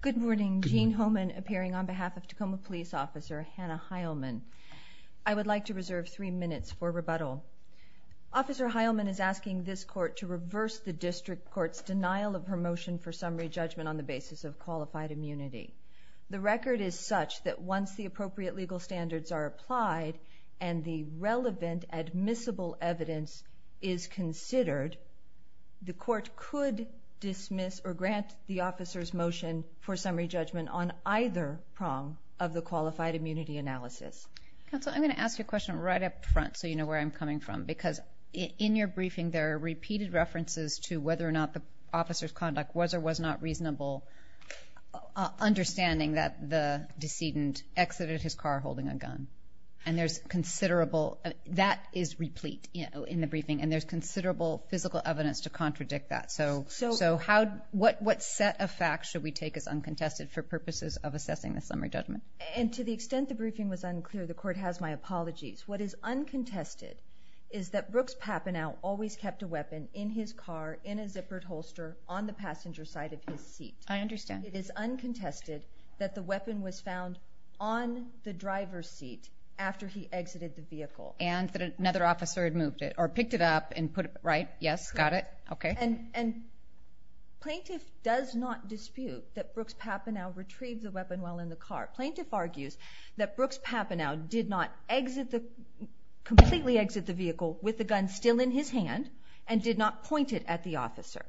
Good morning. Gene Homan appearing on behalf of Tacoma Police Officer Hannah Heilman. I would like to reserve three minutes for rebuttal. Officer Heilman is asking this Court to reverse the District Court's denial of her motion for summary judgment on the basis of qualified immunity. The record is such that once the appropriate legal standards are applied and the relevant admissible evidence is considered, the Court could dismiss or grant the officer's motion for summary judgment on either prong of the qualified immunity analysis. Counsel, I'm going to ask you a question right up front so you know where I'm coming from, because in your briefing there are repeated references to whether or not the officer's conduct was or was not reasonable, understanding that the decedent exited his car holding a gun. That is replete in the briefing, and there's considerable physical evidence to contradict that. So what set of facts should we take as uncontested for purposes of assessing the summary judgment? To the extent the briefing was unclear, the Court has my apologies. What is uncontested is that Brooks Papineau always kept a weapon in his car in a zippered holster on the passenger side of his seat. I understand. It is uncontested that the weapon was found on the driver's seat after he exited the vehicle. And that another officer had moved it or picked it up and put it, right? Yes, got it. Okay. And plaintiff does not dispute that Brooks Papineau retrieved the weapon while in the car. Plaintiff argues that Brooks Papineau did not exit the, completely exit the vehicle with the gun still in his hand and did not point it at the officer.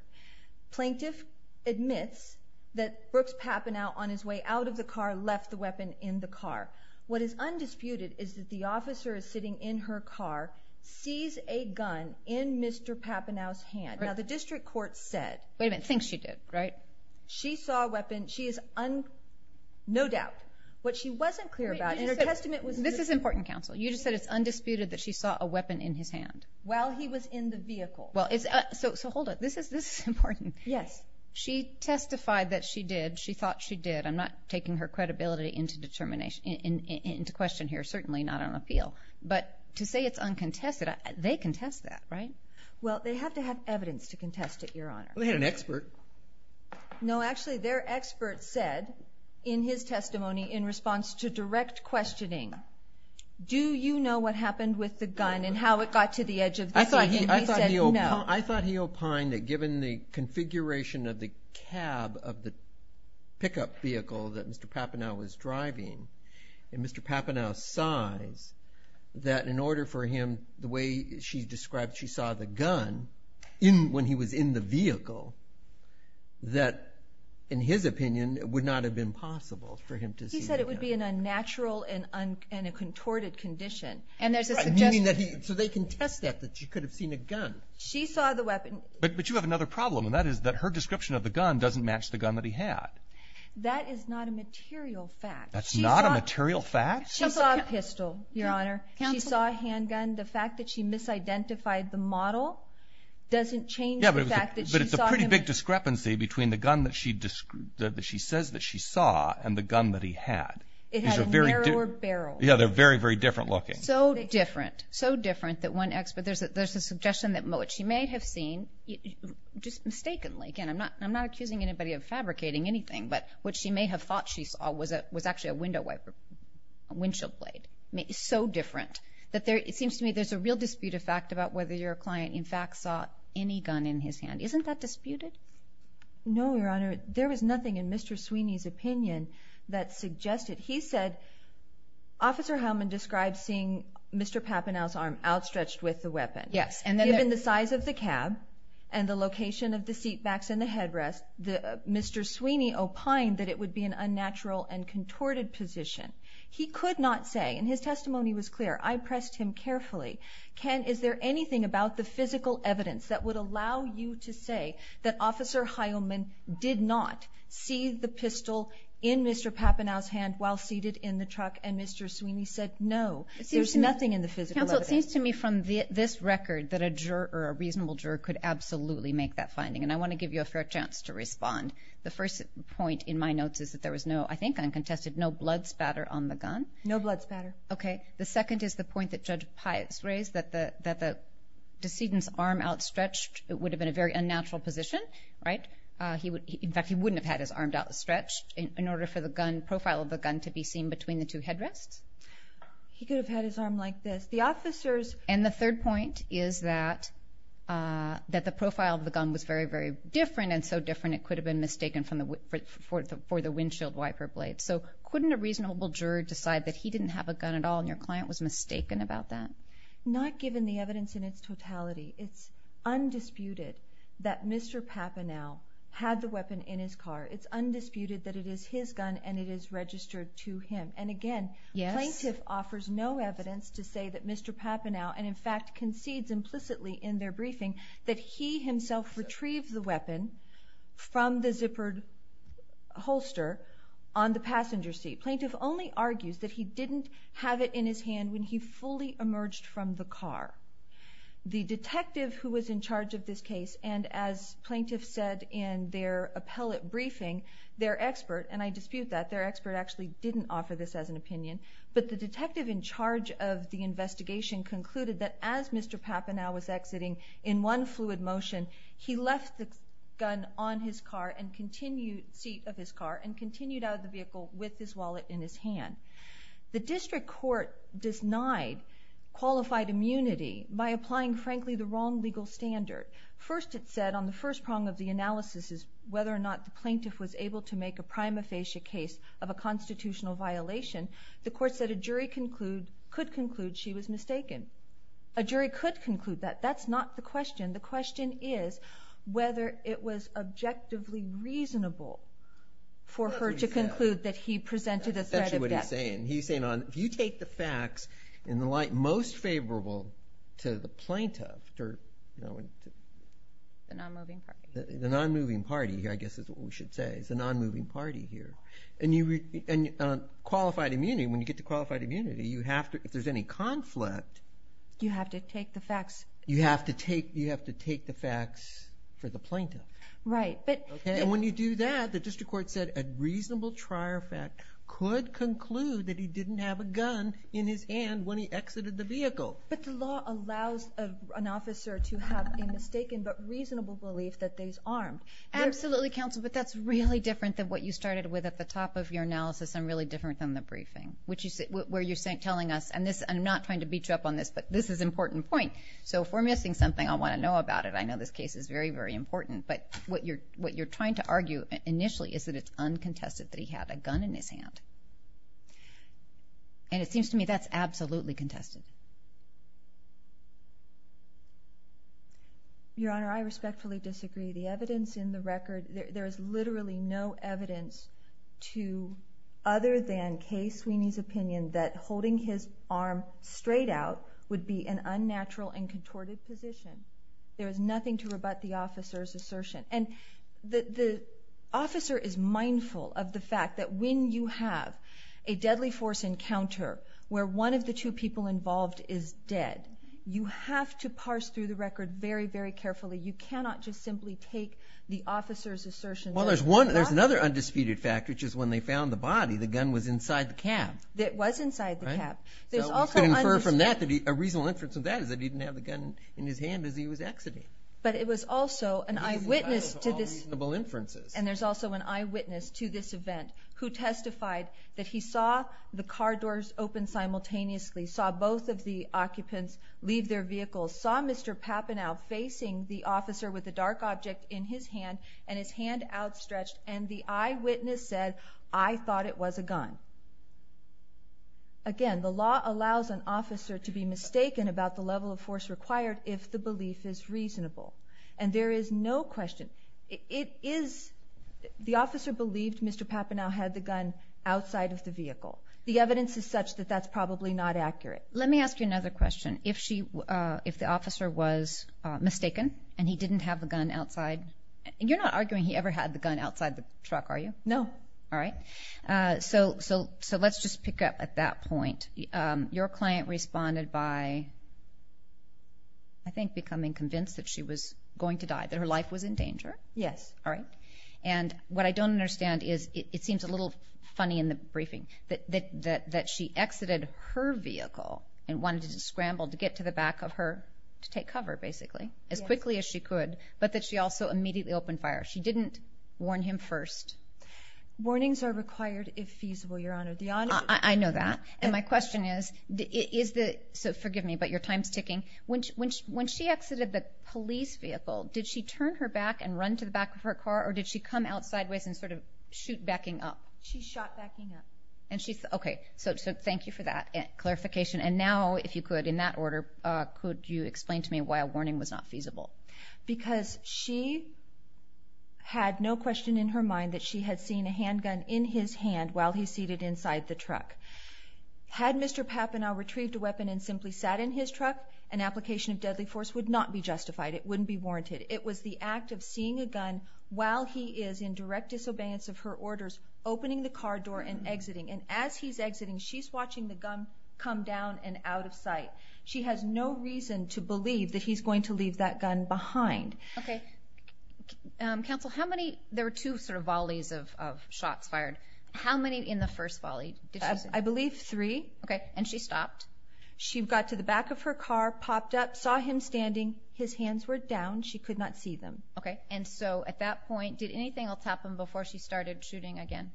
Plaintiff admits that Brooks Papineau on his way out of the car left the weapon in the car. What is undisputed is that the officer is sitting in her car, sees a gun in Mr. Papineau's hand. Now the district court said… Wait a minute, thinks she did, right? She saw a weapon. She is no doubt. What she wasn't clear about in her testament was… This is important, counsel. You just said it's undisputed that she saw a weapon in his hand. While he was in the vehicle. Well, so hold on. This is important. Yes. She testified that she did. She thought she did. I'm not taking her credibility into question here, certainly not on appeal. But to say it's uncontested, they contest that, right? Well, they have to have evidence to contest it, Your Honor. They had an expert. No, actually their expert said in his testimony in response to direct questioning, do you know what happened with the gun and how it got to the edge of the seat? I thought he opined that given the configuration of the cab of the pickup vehicle that Mr. Papineau was driving, and Mr. Papineau's size, that in order for him, the way she described she saw the gun when he was in the vehicle, that in his opinion would not have been possible for him to see the gun. He said it would be an unnatural and a contorted condition. So they contest that, that she could have seen a gun. She saw the weapon. But you have another problem, and that is that her description of the gun doesn't match the gun that he had. That is not a material fact. That's not a material fact? She saw a pistol, Your Honor. She saw a handgun. The fact that she misidentified the model doesn't change the fact that she saw him. But it's a pretty big discrepancy between the gun that she says that she saw and the gun that he had. It had a narrower barrel. Yeah, they're very, very different looking. So different. So different that one expert, there's a suggestion that she may have seen, just mistakenly. Again, I'm not accusing anybody of fabricating anything, but what she may have thought she saw was actually a window wiper, a windshield blade. So different that it seems to me there's a real dispute of fact about whether your client, in fact, saw any gun in his hand. Isn't that disputed? No, Your Honor. There was nothing in Mr. Sweeney's opinion that suggested. He said, Officer Heilman described seeing Mr. Papanow's arm outstretched with the weapon. Yes. Given the size of the cab and the location of the seat backs and the headrest, Mr. Sweeney opined that it would be an unnatural and contorted position. He could not say, and his testimony was clear, I pressed him carefully, Ken, is there anything about the physical evidence that would allow you to say that Mr. Papanow's hand while seated in the truck and Mr. Sweeney said no? There's nothing in the physical evidence. Counsel, it seems to me from this record that a juror, a reasonable juror, could absolutely make that finding, and I want to give you a fair chance to respond. The first point in my notes is that there was no, I think uncontested, no blood spatter on the gun. No blood spatter. Okay. The second is the point that Judge Pius raised, that the decedent's arm outstretched, it would have been a very unnatural position, right? In fact, he wouldn't have had his arm outstretched in order for the profile of the gun to be seen between the two headrests. He could have had his arm like this. And the third point is that the profile of the gun was very, very different, and so different it could have been mistaken for the windshield wiper blade. So couldn't a reasonable juror decide that he didn't have a gun at all and your client was mistaken about that? Not given the evidence in its totality. It's undisputed that Mr. Papanow had the weapon in his car. It's undisputed that it is his gun and it is registered to him. And again, plaintiff offers no evidence to say that Mr. Papanow, and in fact concedes implicitly in their briefing, that he himself retrieved the weapon from the zippered holster on the passenger seat. Plaintiff only argues that he didn't have it in his hand when he fully emerged from the car. The detective who was in charge of this case, and as plaintiff said in their appellate briefing, their expert, and I dispute that, their expert actually didn't offer this as an opinion, but the detective in charge of the investigation concluded that as Mr. Papanow was exiting in one fluid motion, The district court denied qualified immunity by applying, frankly, the wrong legal standard. First it said, on the first prong of the analysis, whether or not the plaintiff was able to make a prima facie case of a constitutional violation, the court said a jury could conclude she was mistaken. A jury could conclude that. That's not the question. The question is whether it was objectively reasonable for her to conclude that he presented a threat of death. That's exactly what he's saying. He's saying if you take the facts in the light most favorable to the plaintiff, The non-moving party. The non-moving party, I guess is what we should say. It's the non-moving party here. And on qualified immunity, when you get to qualified immunity, you have to, if there's any conflict, You have to take the facts. You have to take the facts for the plaintiff. Right, but And when you do that, the district court said a reasonable trier fact could conclude that he didn't have a gun in his hand when he exited the vehicle. But the law allows an officer to have a mistaken but reasonable belief that they's armed. Absolutely, counsel, but that's really different than what you started with at the top of your analysis and really different than the briefing, where you're telling us, and I'm not trying to beat you up on this, but this is an important point. So if we're missing something, I want to know about it. I know this case is very, very important, but what you're trying to argue initially is that it's uncontested that he had a gun in his hand. And it seems to me that's absolutely contested. Your Honor, I respectfully disagree. The evidence in the record, there is literally no evidence to, other than Kay Sweeney's opinion that holding his arm straight out would be an unnatural and contorted position. There is nothing to rebut the officer's assertion. And the officer is mindful of the fact that when you have a deadly force encounter where one of the two people involved is dead, you have to parse through the record very, very carefully. You cannot just simply take the officer's assertion. Well, there's another undisputed fact, which is when they found the body, the gun was inside the cab. It was inside the cab. A reasonable inference of that is that he didn't have the gun in his hand as he was exiting. But it was also an eyewitness to this. And there's also an eyewitness to this event who testified that he saw the car doors open simultaneously, saw both of the occupants leave their vehicles, saw Mr. Papanow facing the officer with the dark object in his hand and his hand outstretched, and the eyewitness said, I thought it was a gun. Again, the law allows an officer to be mistaken about the level of force required if the belief is reasonable. And there is no question. It is the officer believed Mr. Papanow had the gun outside of the vehicle. The evidence is such that that's probably not accurate. Let me ask you another question. If the officer was mistaken and he didn't have the gun outside, you're not arguing he ever had the gun outside the truck, are you? No. All right. So let's just pick up at that point. Your client responded by, I think, becoming convinced that she was going to die, that her life was in danger. Yes. All right. And what I don't understand is it seems a little funny in the briefing, that she exited her vehicle and wanted to scramble to get to the back of her to take cover, basically, as quickly as she could, but that she also immediately opened fire. She didn't warn him first. Warnings are required if feasible, Your Honor. I know that. And my question is, so forgive me, but your time's ticking. When she exited the police vehicle, did she turn her back and run to the back of her car, or did she come out sideways and sort of shoot backing up? She shot backing up. Okay. So thank you for that clarification. And now, if you could, in that order, could you explain to me why a warning was not feasible? Because she had no question in her mind that she had seen a handgun in his hand while he's seated inside the truck. Had Mr. Papanow retrieved a weapon and simply sat in his truck, an application of deadly force would not be justified. It wouldn't be warranted. It was the act of seeing a gun while he is in direct disobedience of her orders, opening the car door and exiting. And as he's exiting, she's watching the gun come down and out of sight. She has no reason to believe that he's going to leave that gun behind. Okay. Counsel, how many? There were two sort of volleys of shots fired. How many in the first volley? I believe three. Okay. And she stopped? She got to the back of her car, popped up, saw him standing. His hands were down. She could not see them. Okay. And so at that point, did anything else happen before she started shooting again?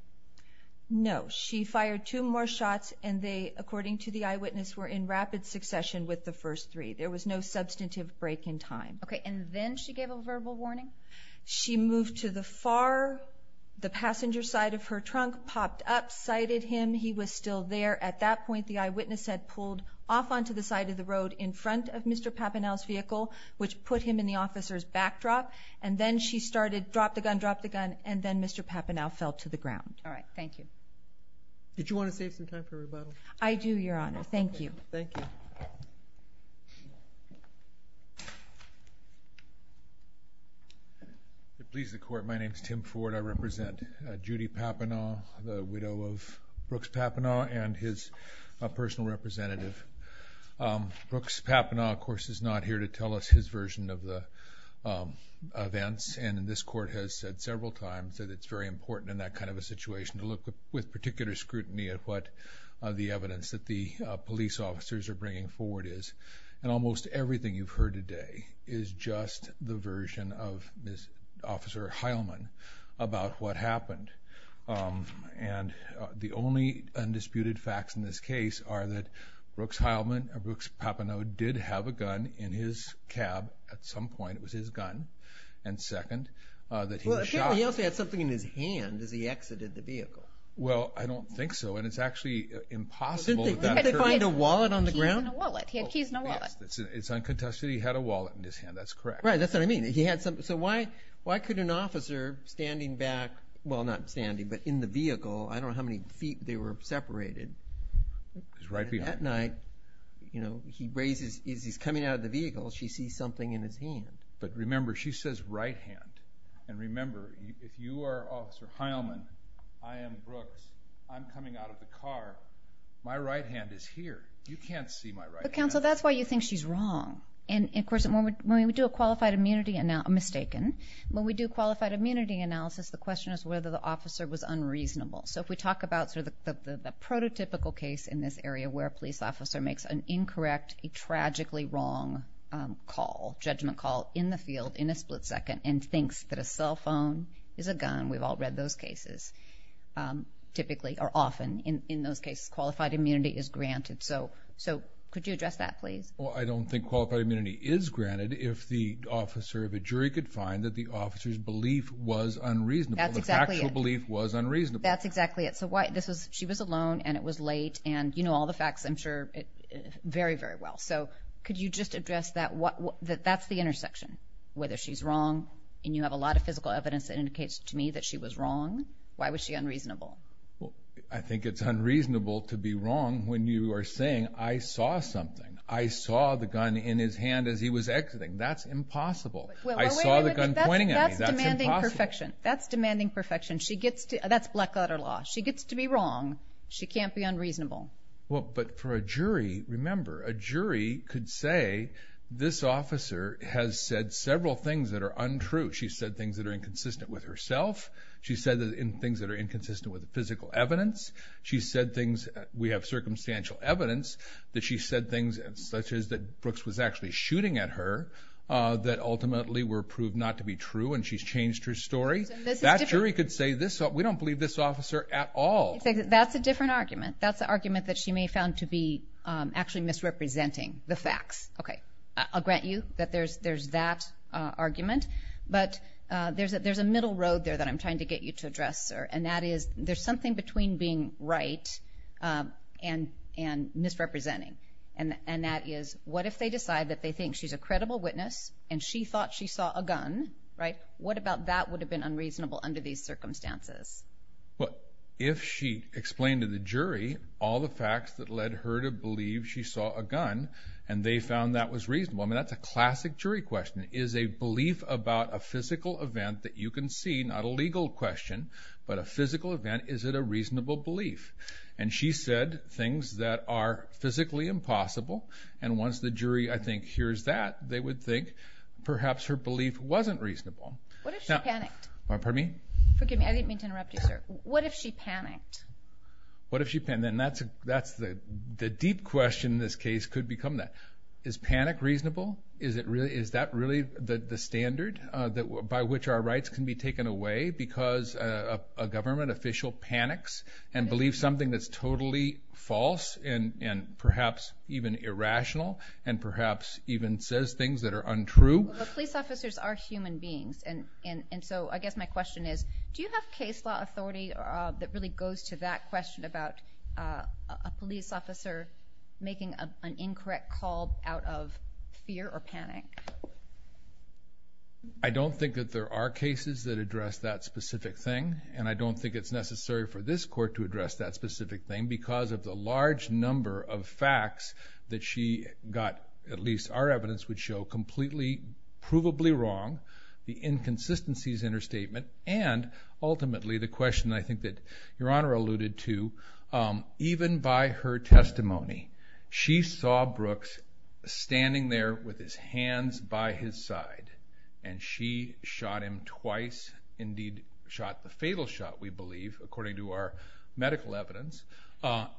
No. She fired two more shots and they, according to the eyewitness, were in rapid succession with the first three. There was no substantive break in time. Okay. And then she gave a verbal warning? She moved to the far, the passenger side of her trunk, popped up, sighted him. He was still there. At that point, the eyewitness had pulled off onto the side of the road in front of Mr. Papanow's vehicle, which put him in the officer's backdrop. And then she started drop the gun, drop the gun, and then Mr. Papanow fell to the ground. All right. Thank you. Did you want to save some time for rebuttal? I do, Your Honor. Thank you. Thank you. If it pleases the Court, my name is Tim Ford. I represent Judy Papanow, the widow of Brooks Papanow, and his personal representative. Brooks Papanow, of course, is not here to tell us his version of the events, and this Court has said several times that it's very important in that kind of a situation to look with particular scrutiny at what the evidence that the police officers are bringing forward is. And almost everything you've heard today is just the version of Officer Heilman about what happened. And the only undisputed facts in this case are that Brooks Papanow did have a gun in his cab at some point. It was his gun. And second, that he was shot. Well, he also had something in his hand as he exited the vehicle. Well, I don't think so, and it's actually impossible. Didn't they find a wallet on the ground? Keys in a wallet. He had keys in a wallet. It's uncontested. He had a wallet in his hand. That's correct. Right, that's what I mean. So why could an officer standing back, well, not standing, but in the vehicle, I don't know how many feet they were separated. He's right behind you. That night, you know, as he's coming out of the vehicle, she sees something in his hand. But remember, she says right hand. And remember, if you are Officer Heilman, I am Brooks, I'm coming out of the car, my right hand is here. You can't see my right hand. But, counsel, that's why you think she's wrong. And, of course, when we do a qualified immunity analysis, when we do a qualified immunity analysis, the question is whether the officer was unreasonable. So if we talk about sort of the prototypical case in this area where a police officer makes an incorrect, a tragically wrong call, judgment call in the field in a split second and thinks that a cell phone is a gun, we've all read those cases, typically, or often in those cases, qualified immunity is granted. So could you address that, please? Well, I don't think qualified immunity is granted if the officer, if a jury could find that the officer's belief was unreasonable. That's exactly it. The factual belief was unreasonable. That's exactly it. So she was alone and it was late. And you know all the facts, I'm sure, very, very well. So could you just address that? That's the intersection, whether she's wrong. And you have a lot of physical evidence that indicates to me that she was wrong. Why was she unreasonable? I think it's unreasonable to be wrong when you are saying, I saw something. I saw the gun in his hand as he was exiting. That's impossible. I saw the gun pointing at me. That's impossible. That's demanding perfection. That's demanding perfection. That's black-letter law. She gets to be wrong. She can't be unreasonable. Well, but for a jury, remember, a jury could say, this officer has said several things that are untrue. She's said things that are inconsistent with herself. She's said things that are inconsistent with the physical evidence. She's said things, we have circumstantial evidence, that she's said things such as that Brooks was actually shooting at her that ultimately were proved not to be true and she's changed her story. That jury could say, we don't believe this officer at all. That's a different argument. That's the argument that she may have found to be actually misrepresenting the facts. Okay. I'll grant you that there's that argument, but there's a middle road there that I'm trying to get you to address, sir, and that is there's something between being right and misrepresenting, and that is what if they decide that they think she's a credible witness and she thought she saw a gun, right? What about that would have been unreasonable under these circumstances? Well, if she explained to the jury all the facts that led her to believe she saw a gun and they found that was reasonable, I mean, that's a classic jury question. Is a belief about a physical event that you can see, not a legal question, but a physical event, is it a reasonable belief? And she said things that are physically impossible, and once the jury, I think, hears that, they would think perhaps her belief wasn't reasonable. What if she panicked? Pardon me? Forgive me. I didn't mean to interrupt you, sir. What if she panicked? What if she panicked? And that's the deep question in this case could become that. Is panic reasonable? Is that really the standard by which our rights can be taken away because a government official panics and believes something that's totally false and perhaps even irrational and perhaps even says things that are untrue? Well, police officers are human beings, and so I guess my question is, do you have case law authority that really goes to that question about a police officer making an incorrect call out of fear or panic? I don't think that there are cases that address that specific thing, and I don't think it's necessary for this court to address that specific thing because of the large number of facts that she got, at least our evidence would show, completely provably wrong, the inconsistencies in her statement, and ultimately the question I think that Your Honor alluded to. Even by her testimony, she saw Brooks standing there with his hands by his side, and she shot him twice, indeed shot the fatal shot, we believe, according to our medical evidence,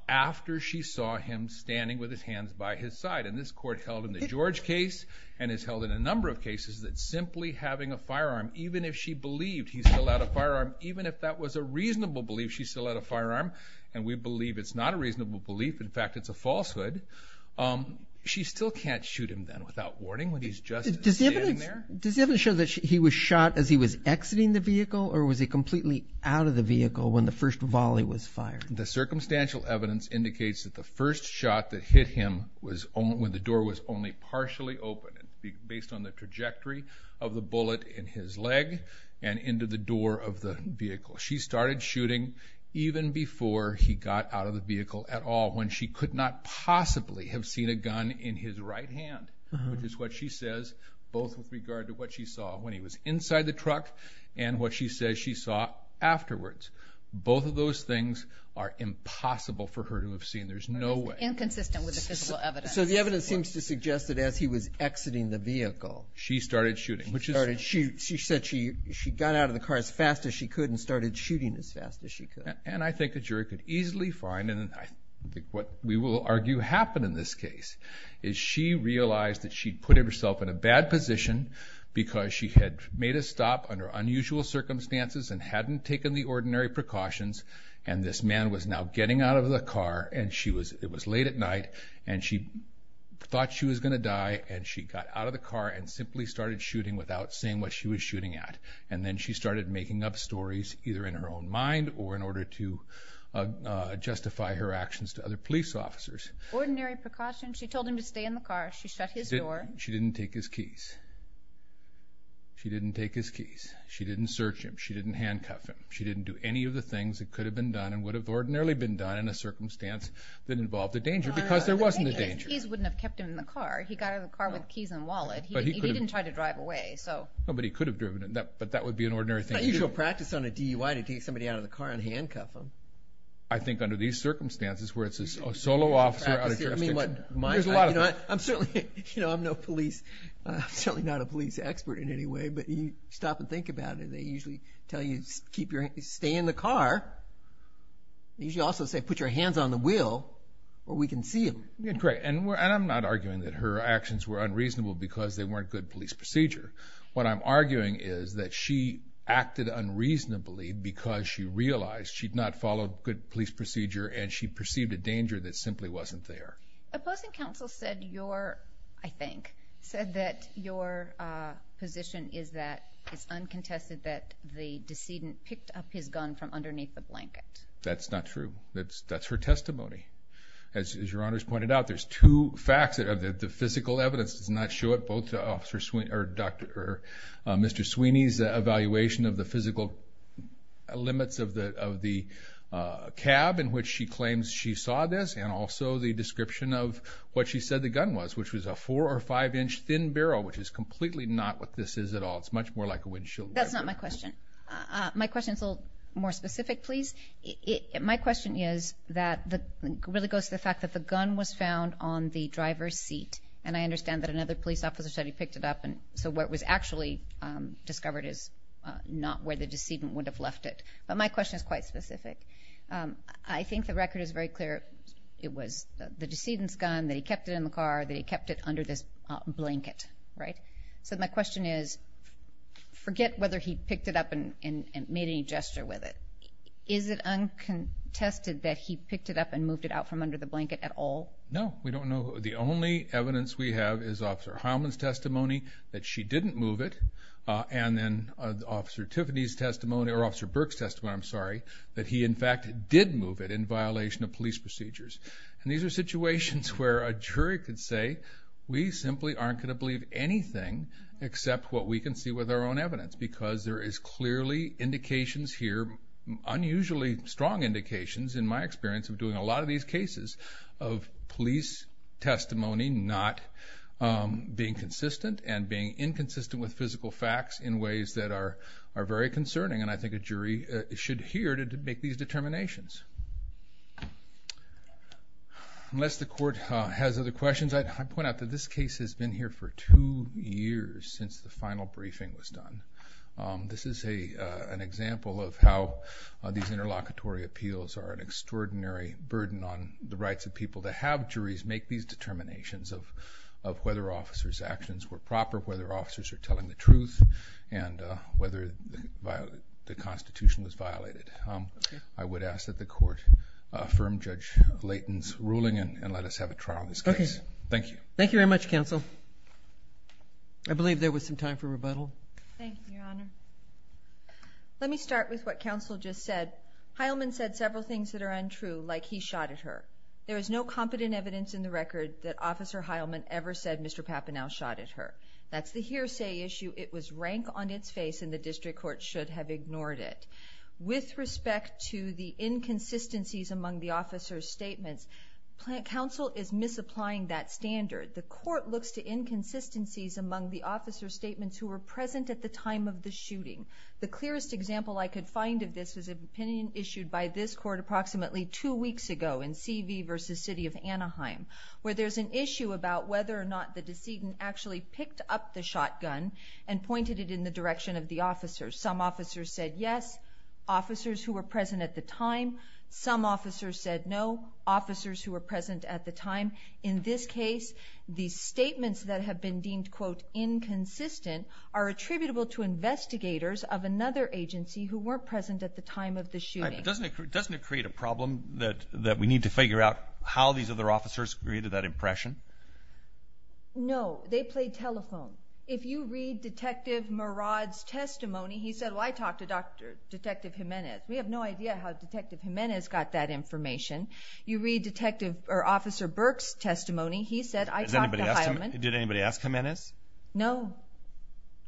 after she saw him standing with his hands by his side. And this court held in the George case and has held in a number of cases that simply having a firearm, even if she believed he still had a firearm, even if that was a reasonable belief she still had a firearm, and we believe it's not a reasonable belief, in fact it's a falsehood, she still can't shoot him then without warning when he's just standing there? Does the evidence show that he was shot as he was exiting the vehicle, or was he completely out of the vehicle when the first volley was fired? The circumstantial evidence indicates that the first shot that hit him was when the door was only partially open, based on the trajectory of the bullet in his leg and into the door of the vehicle. She started shooting even before he got out of the vehicle at all, when she could not possibly have seen a gun in his right hand, which is what she says, both with regard to what she saw when he was inside the truck and what she says she saw afterwards. Both of those things are impossible for her to have seen, there's no way. It's inconsistent with the physical evidence. So the evidence seems to suggest that as he was exiting the vehicle... She started shooting. She said she got out of the car as fast as she could and started shooting as fast as she could. And I think a jury could easily find, and I think what we will argue happened in this case, is she realized that she'd put herself in a bad position because she had made a stop under unusual circumstances and hadn't taken the ordinary precautions, and this man was now getting out of the car, and it was late at night, and she thought she was going to die, and she got out of the car and simply started shooting without saying what she was shooting at. And then she started making up stories, either in her own mind or in order to justify her actions to other police officers. Ordinary precautions. She told him to stay in the car. She shut his door. She didn't take his keys. She didn't take his keys. She didn't search him. She didn't handcuff him. She didn't do any of the things that could have been done and would have ordinarily been done in a circumstance that involved a danger because there wasn't a danger. His keys wouldn't have kept him in the car. He got out of the car with keys in the wallet. He didn't try to drive away. But he could have driven, but that would be an ordinary thing to do. It's not usual practice on a DUI to take somebody out of the car and handcuff them. I think under these circumstances where it's a solo officer out of jurisdiction... There's a lot of that. I'm certainly not a police expert in any way, but you stop and think about it. They usually tell you to stay in the car. They usually also say put your hands on the wheel where we can see them. And I'm not arguing that her actions were unreasonable because they weren't good police procedure. What I'm arguing is that she acted unreasonably because she realized she'd not followed good police procedure and she perceived a danger that simply wasn't there. Opposing counsel said your, I think, said that your position is that it's uncontested that the decedent picked up his gun from underneath the blanket. That's not true. That's her testimony. As your Honor's pointed out, there's two facts. The physical evidence does not show it. Both Officer Sweeney's evaluation of the physical limits of the cab in which she claims she saw this and also the description of what she said the gun was, which was a four or five inch thin barrel, which is completely not what this is at all. It's much more like a windshield wiper. That's not my question. My question is a little more specific, please. My question really goes to the fact that the gun was found on the driver's seat and I understand that another police officer said he picked it up and so what was actually discovered is not where the decedent would have left it. But my question is quite specific. I think the record is very clear. It was the decedent's gun, that he kept it in the car, that he kept it under this blanket. Right? So my question is forget whether he picked it up and made any gesture with it. Is it uncontested that he picked it up and moved it out from under the blanket at all? No. We don't know. The only evidence we have is Officer Heilman's testimony that she didn't move it and then Officer Tiffany's testimony or Officer Burke's testimony, I'm sorry, that he, in fact, did move it in violation of police procedures. And these are situations where a jury could say, we simply aren't going to believe anything except what we can see with our own evidence because there is clearly indications here, unusually strong indications, in my experience of doing a lot of these cases, of police testimony not being consistent and being inconsistent with physical facts in ways that are very concerning. And I think a jury should hear to make these determinations. Unless the Court has other questions, I'd point out that this case has been here for two years since the final briefing was done. This is an example of how these interlocutory appeals are an extraordinary burden on the rights of people to have juries make these determinations of whether officers' actions were proper, whether officers are telling the truth, and whether the Constitution was violated. I would ask that the Court affirm Judge Layton's ruling and let us have a trial on this case. Thank you. Thank you very much, Counsel. I believe there was some time for rebuttal. Thank you, Your Honor. Let me start with what Counsel just said. Heilman said several things that are untrue, like he shot at her. There is no competent evidence in the record that Officer Heilman ever said Mr. Papanow shot at her. That's the hearsay issue. It was rank on its face and the district court should have ignored it. With respect to the inconsistencies among the officers' statements, Counsel is misapplying that standard. The Court looks to inconsistencies among the officers' statements who were present at the time of the shooting. The clearest example I could find of this was an opinion issued by this Court approximately two weeks ago in C.V. v. City of Anaheim, where there's an issue about whether or not the decedent actually picked up the shotgun and pointed it in the direction of the officers. Some officers said yes, officers who were present at the time. Some officers said no, officers who were present at the time. In this case, the statements that have been deemed, quote, inconsistent are attributable to investigators of another agency who weren't present at the time of the shooting. Doesn't it create a problem that we need to figure out how these other officers created that impression? No, they played telephone. If you read Detective Murad's testimony, he said, Well, I talked to Detective Jimenez. We have no idea how Detective Jimenez got that information. You read Officer Burke's testimony. He said, I talked to Heilman. Did anybody ask Jimenez? No.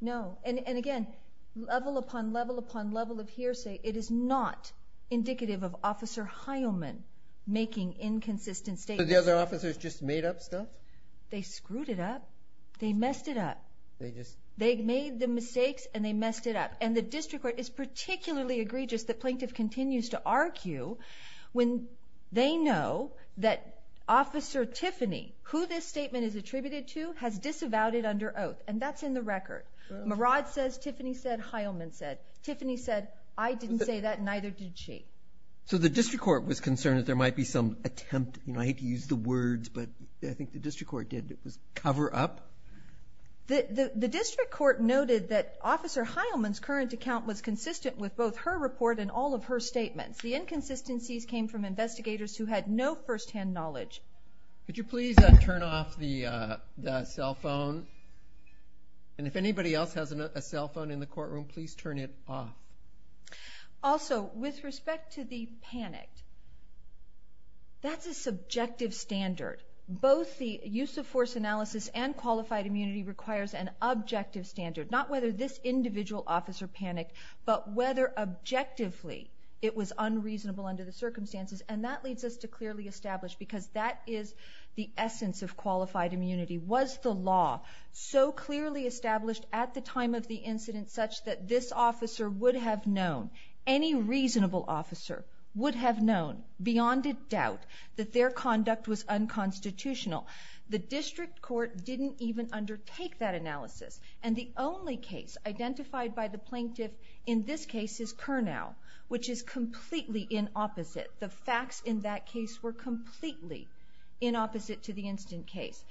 And, again, level upon level upon level of hearsay, it is not indicative of Officer Heilman making inconsistent statements. Did the other officers just made up stuff? They screwed it up. They messed it up. They made the mistakes, and they messed it up. And the district court is particularly egregious, the plaintiff continues to argue, when they know that Officer Tiffany, who this statement is attributed to, has disavowed it under oath. And that's in the record. Murad says, Tiffany said, Heilman said. Tiffany said, I didn't say that, and neither did she. So the district court was concerned that there might be some attempt, I hate to use the words, but I think the district court did, was cover up. The district court noted that Officer Heilman's current account was consistent with both her report and all of her statements. The inconsistencies came from investigators who had no firsthand knowledge. Could you please turn off the cell phone? And if anybody else has a cell phone in the courtroom, please turn it off. Also, with respect to the panic, that's a subjective standard. Both the use of force analysis and qualified immunity requires an objective standard, not whether this individual officer panicked, but whether objectively it was unreasonable under the circumstances. And that leads us to clearly establish, because that is the essence of qualified immunity, was the law so clearly established at the time of the incident such that this officer would have known, any reasonable officer would have known, beyond a doubt, that their conduct was unconstitutional. The district court didn't even undertake that analysis. And the only case identified by the plaintiff in this case is Curnow, which is completely in opposite. The facts in that case were completely in opposite to the instant case.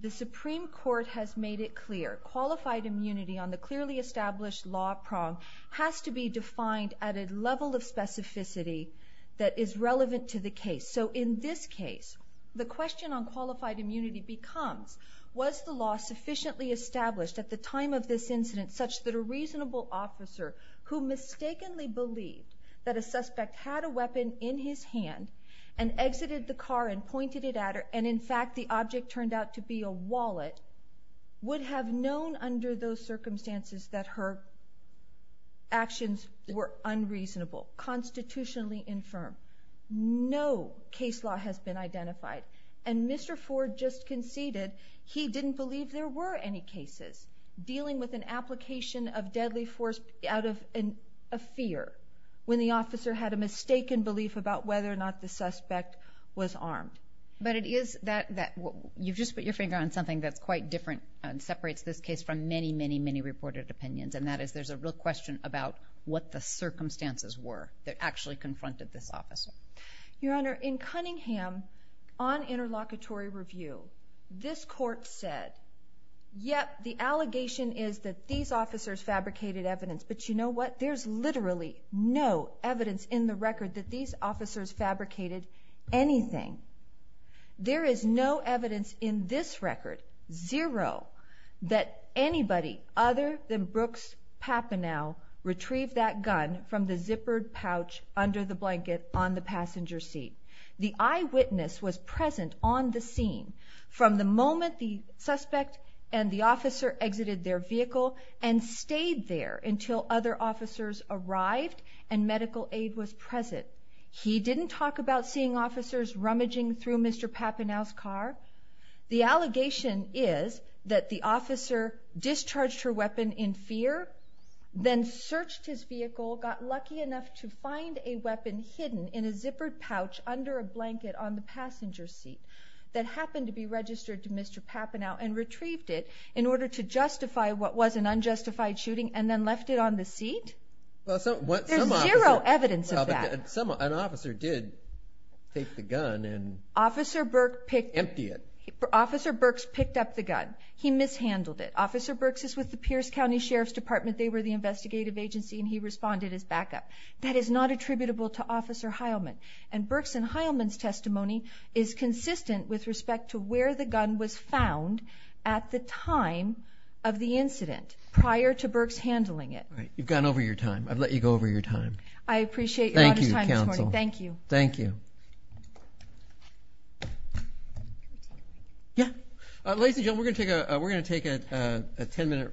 The Supreme Court has made it clear, qualified immunity on the clearly established law prong has to be defined at a level of specificity that is relevant to the case. So in this case, the question on qualified immunity becomes, was the law sufficiently established at the time of this incident such that a reasonable officer who mistakenly believed that a suspect had a weapon in his hand and exited the car and pointed it at her, and in fact the object turned out to be a wallet, would have known under those circumstances that her actions were unreasonable, constitutionally infirm. No case law has been identified. And Mr. Ford just conceded he didn't believe there were any cases dealing with an application of deadly force out of a fear when the officer had a mistaken belief about whether or not the suspect was armed. But it is that... you've just put your finger on something that's quite different and separates this case from many, many, many reported opinions, and that is there's a real question about what the circumstances were that actually confronted this officer. Your Honor, in Cunningham, on interlocutory review, this court said, yep, the allegation is that these officers fabricated evidence, but you know what? There's literally no evidence in the record that these officers fabricated anything. There is no evidence in this record, zero, that anybody other than Brooks Papineau retrieved that gun from the zippered pouch under the blanket on the passenger seat. The eyewitness was present on the scene from the moment the suspect and the officer exited their vehicle and stayed there until other officers arrived and medical aid was present. He didn't talk about seeing officers rummaging through Mr. Papineau's car. The allegation is that the officer discharged her weapon in fear, then searched his vehicle, got lucky enough to find a weapon hidden in a zippered pouch under a blanket on the passenger seat that happened to be registered to Mr. Papineau and retrieved it in order to justify what was an unjustified shooting and then left it on the seat. There's zero evidence of that. An officer did take the gun and empty it. Officer Burks picked up the gun. He mishandled it. Officer Burks is with the Pierce County Sheriff's Department. They were the investigative agency, and he responded as backup. That is not attributable to Officer Heilman. And Burks and Heilman's testimony is consistent with respect to where the gun was found at the time of the incident prior to Burks handling it. You've gone over your time. I've let you go over your time. I appreciate your time this morning. Thank you. Thank you. Thank you. Yeah. Ladies and gentlemen, we're going to take a 10-minute recess.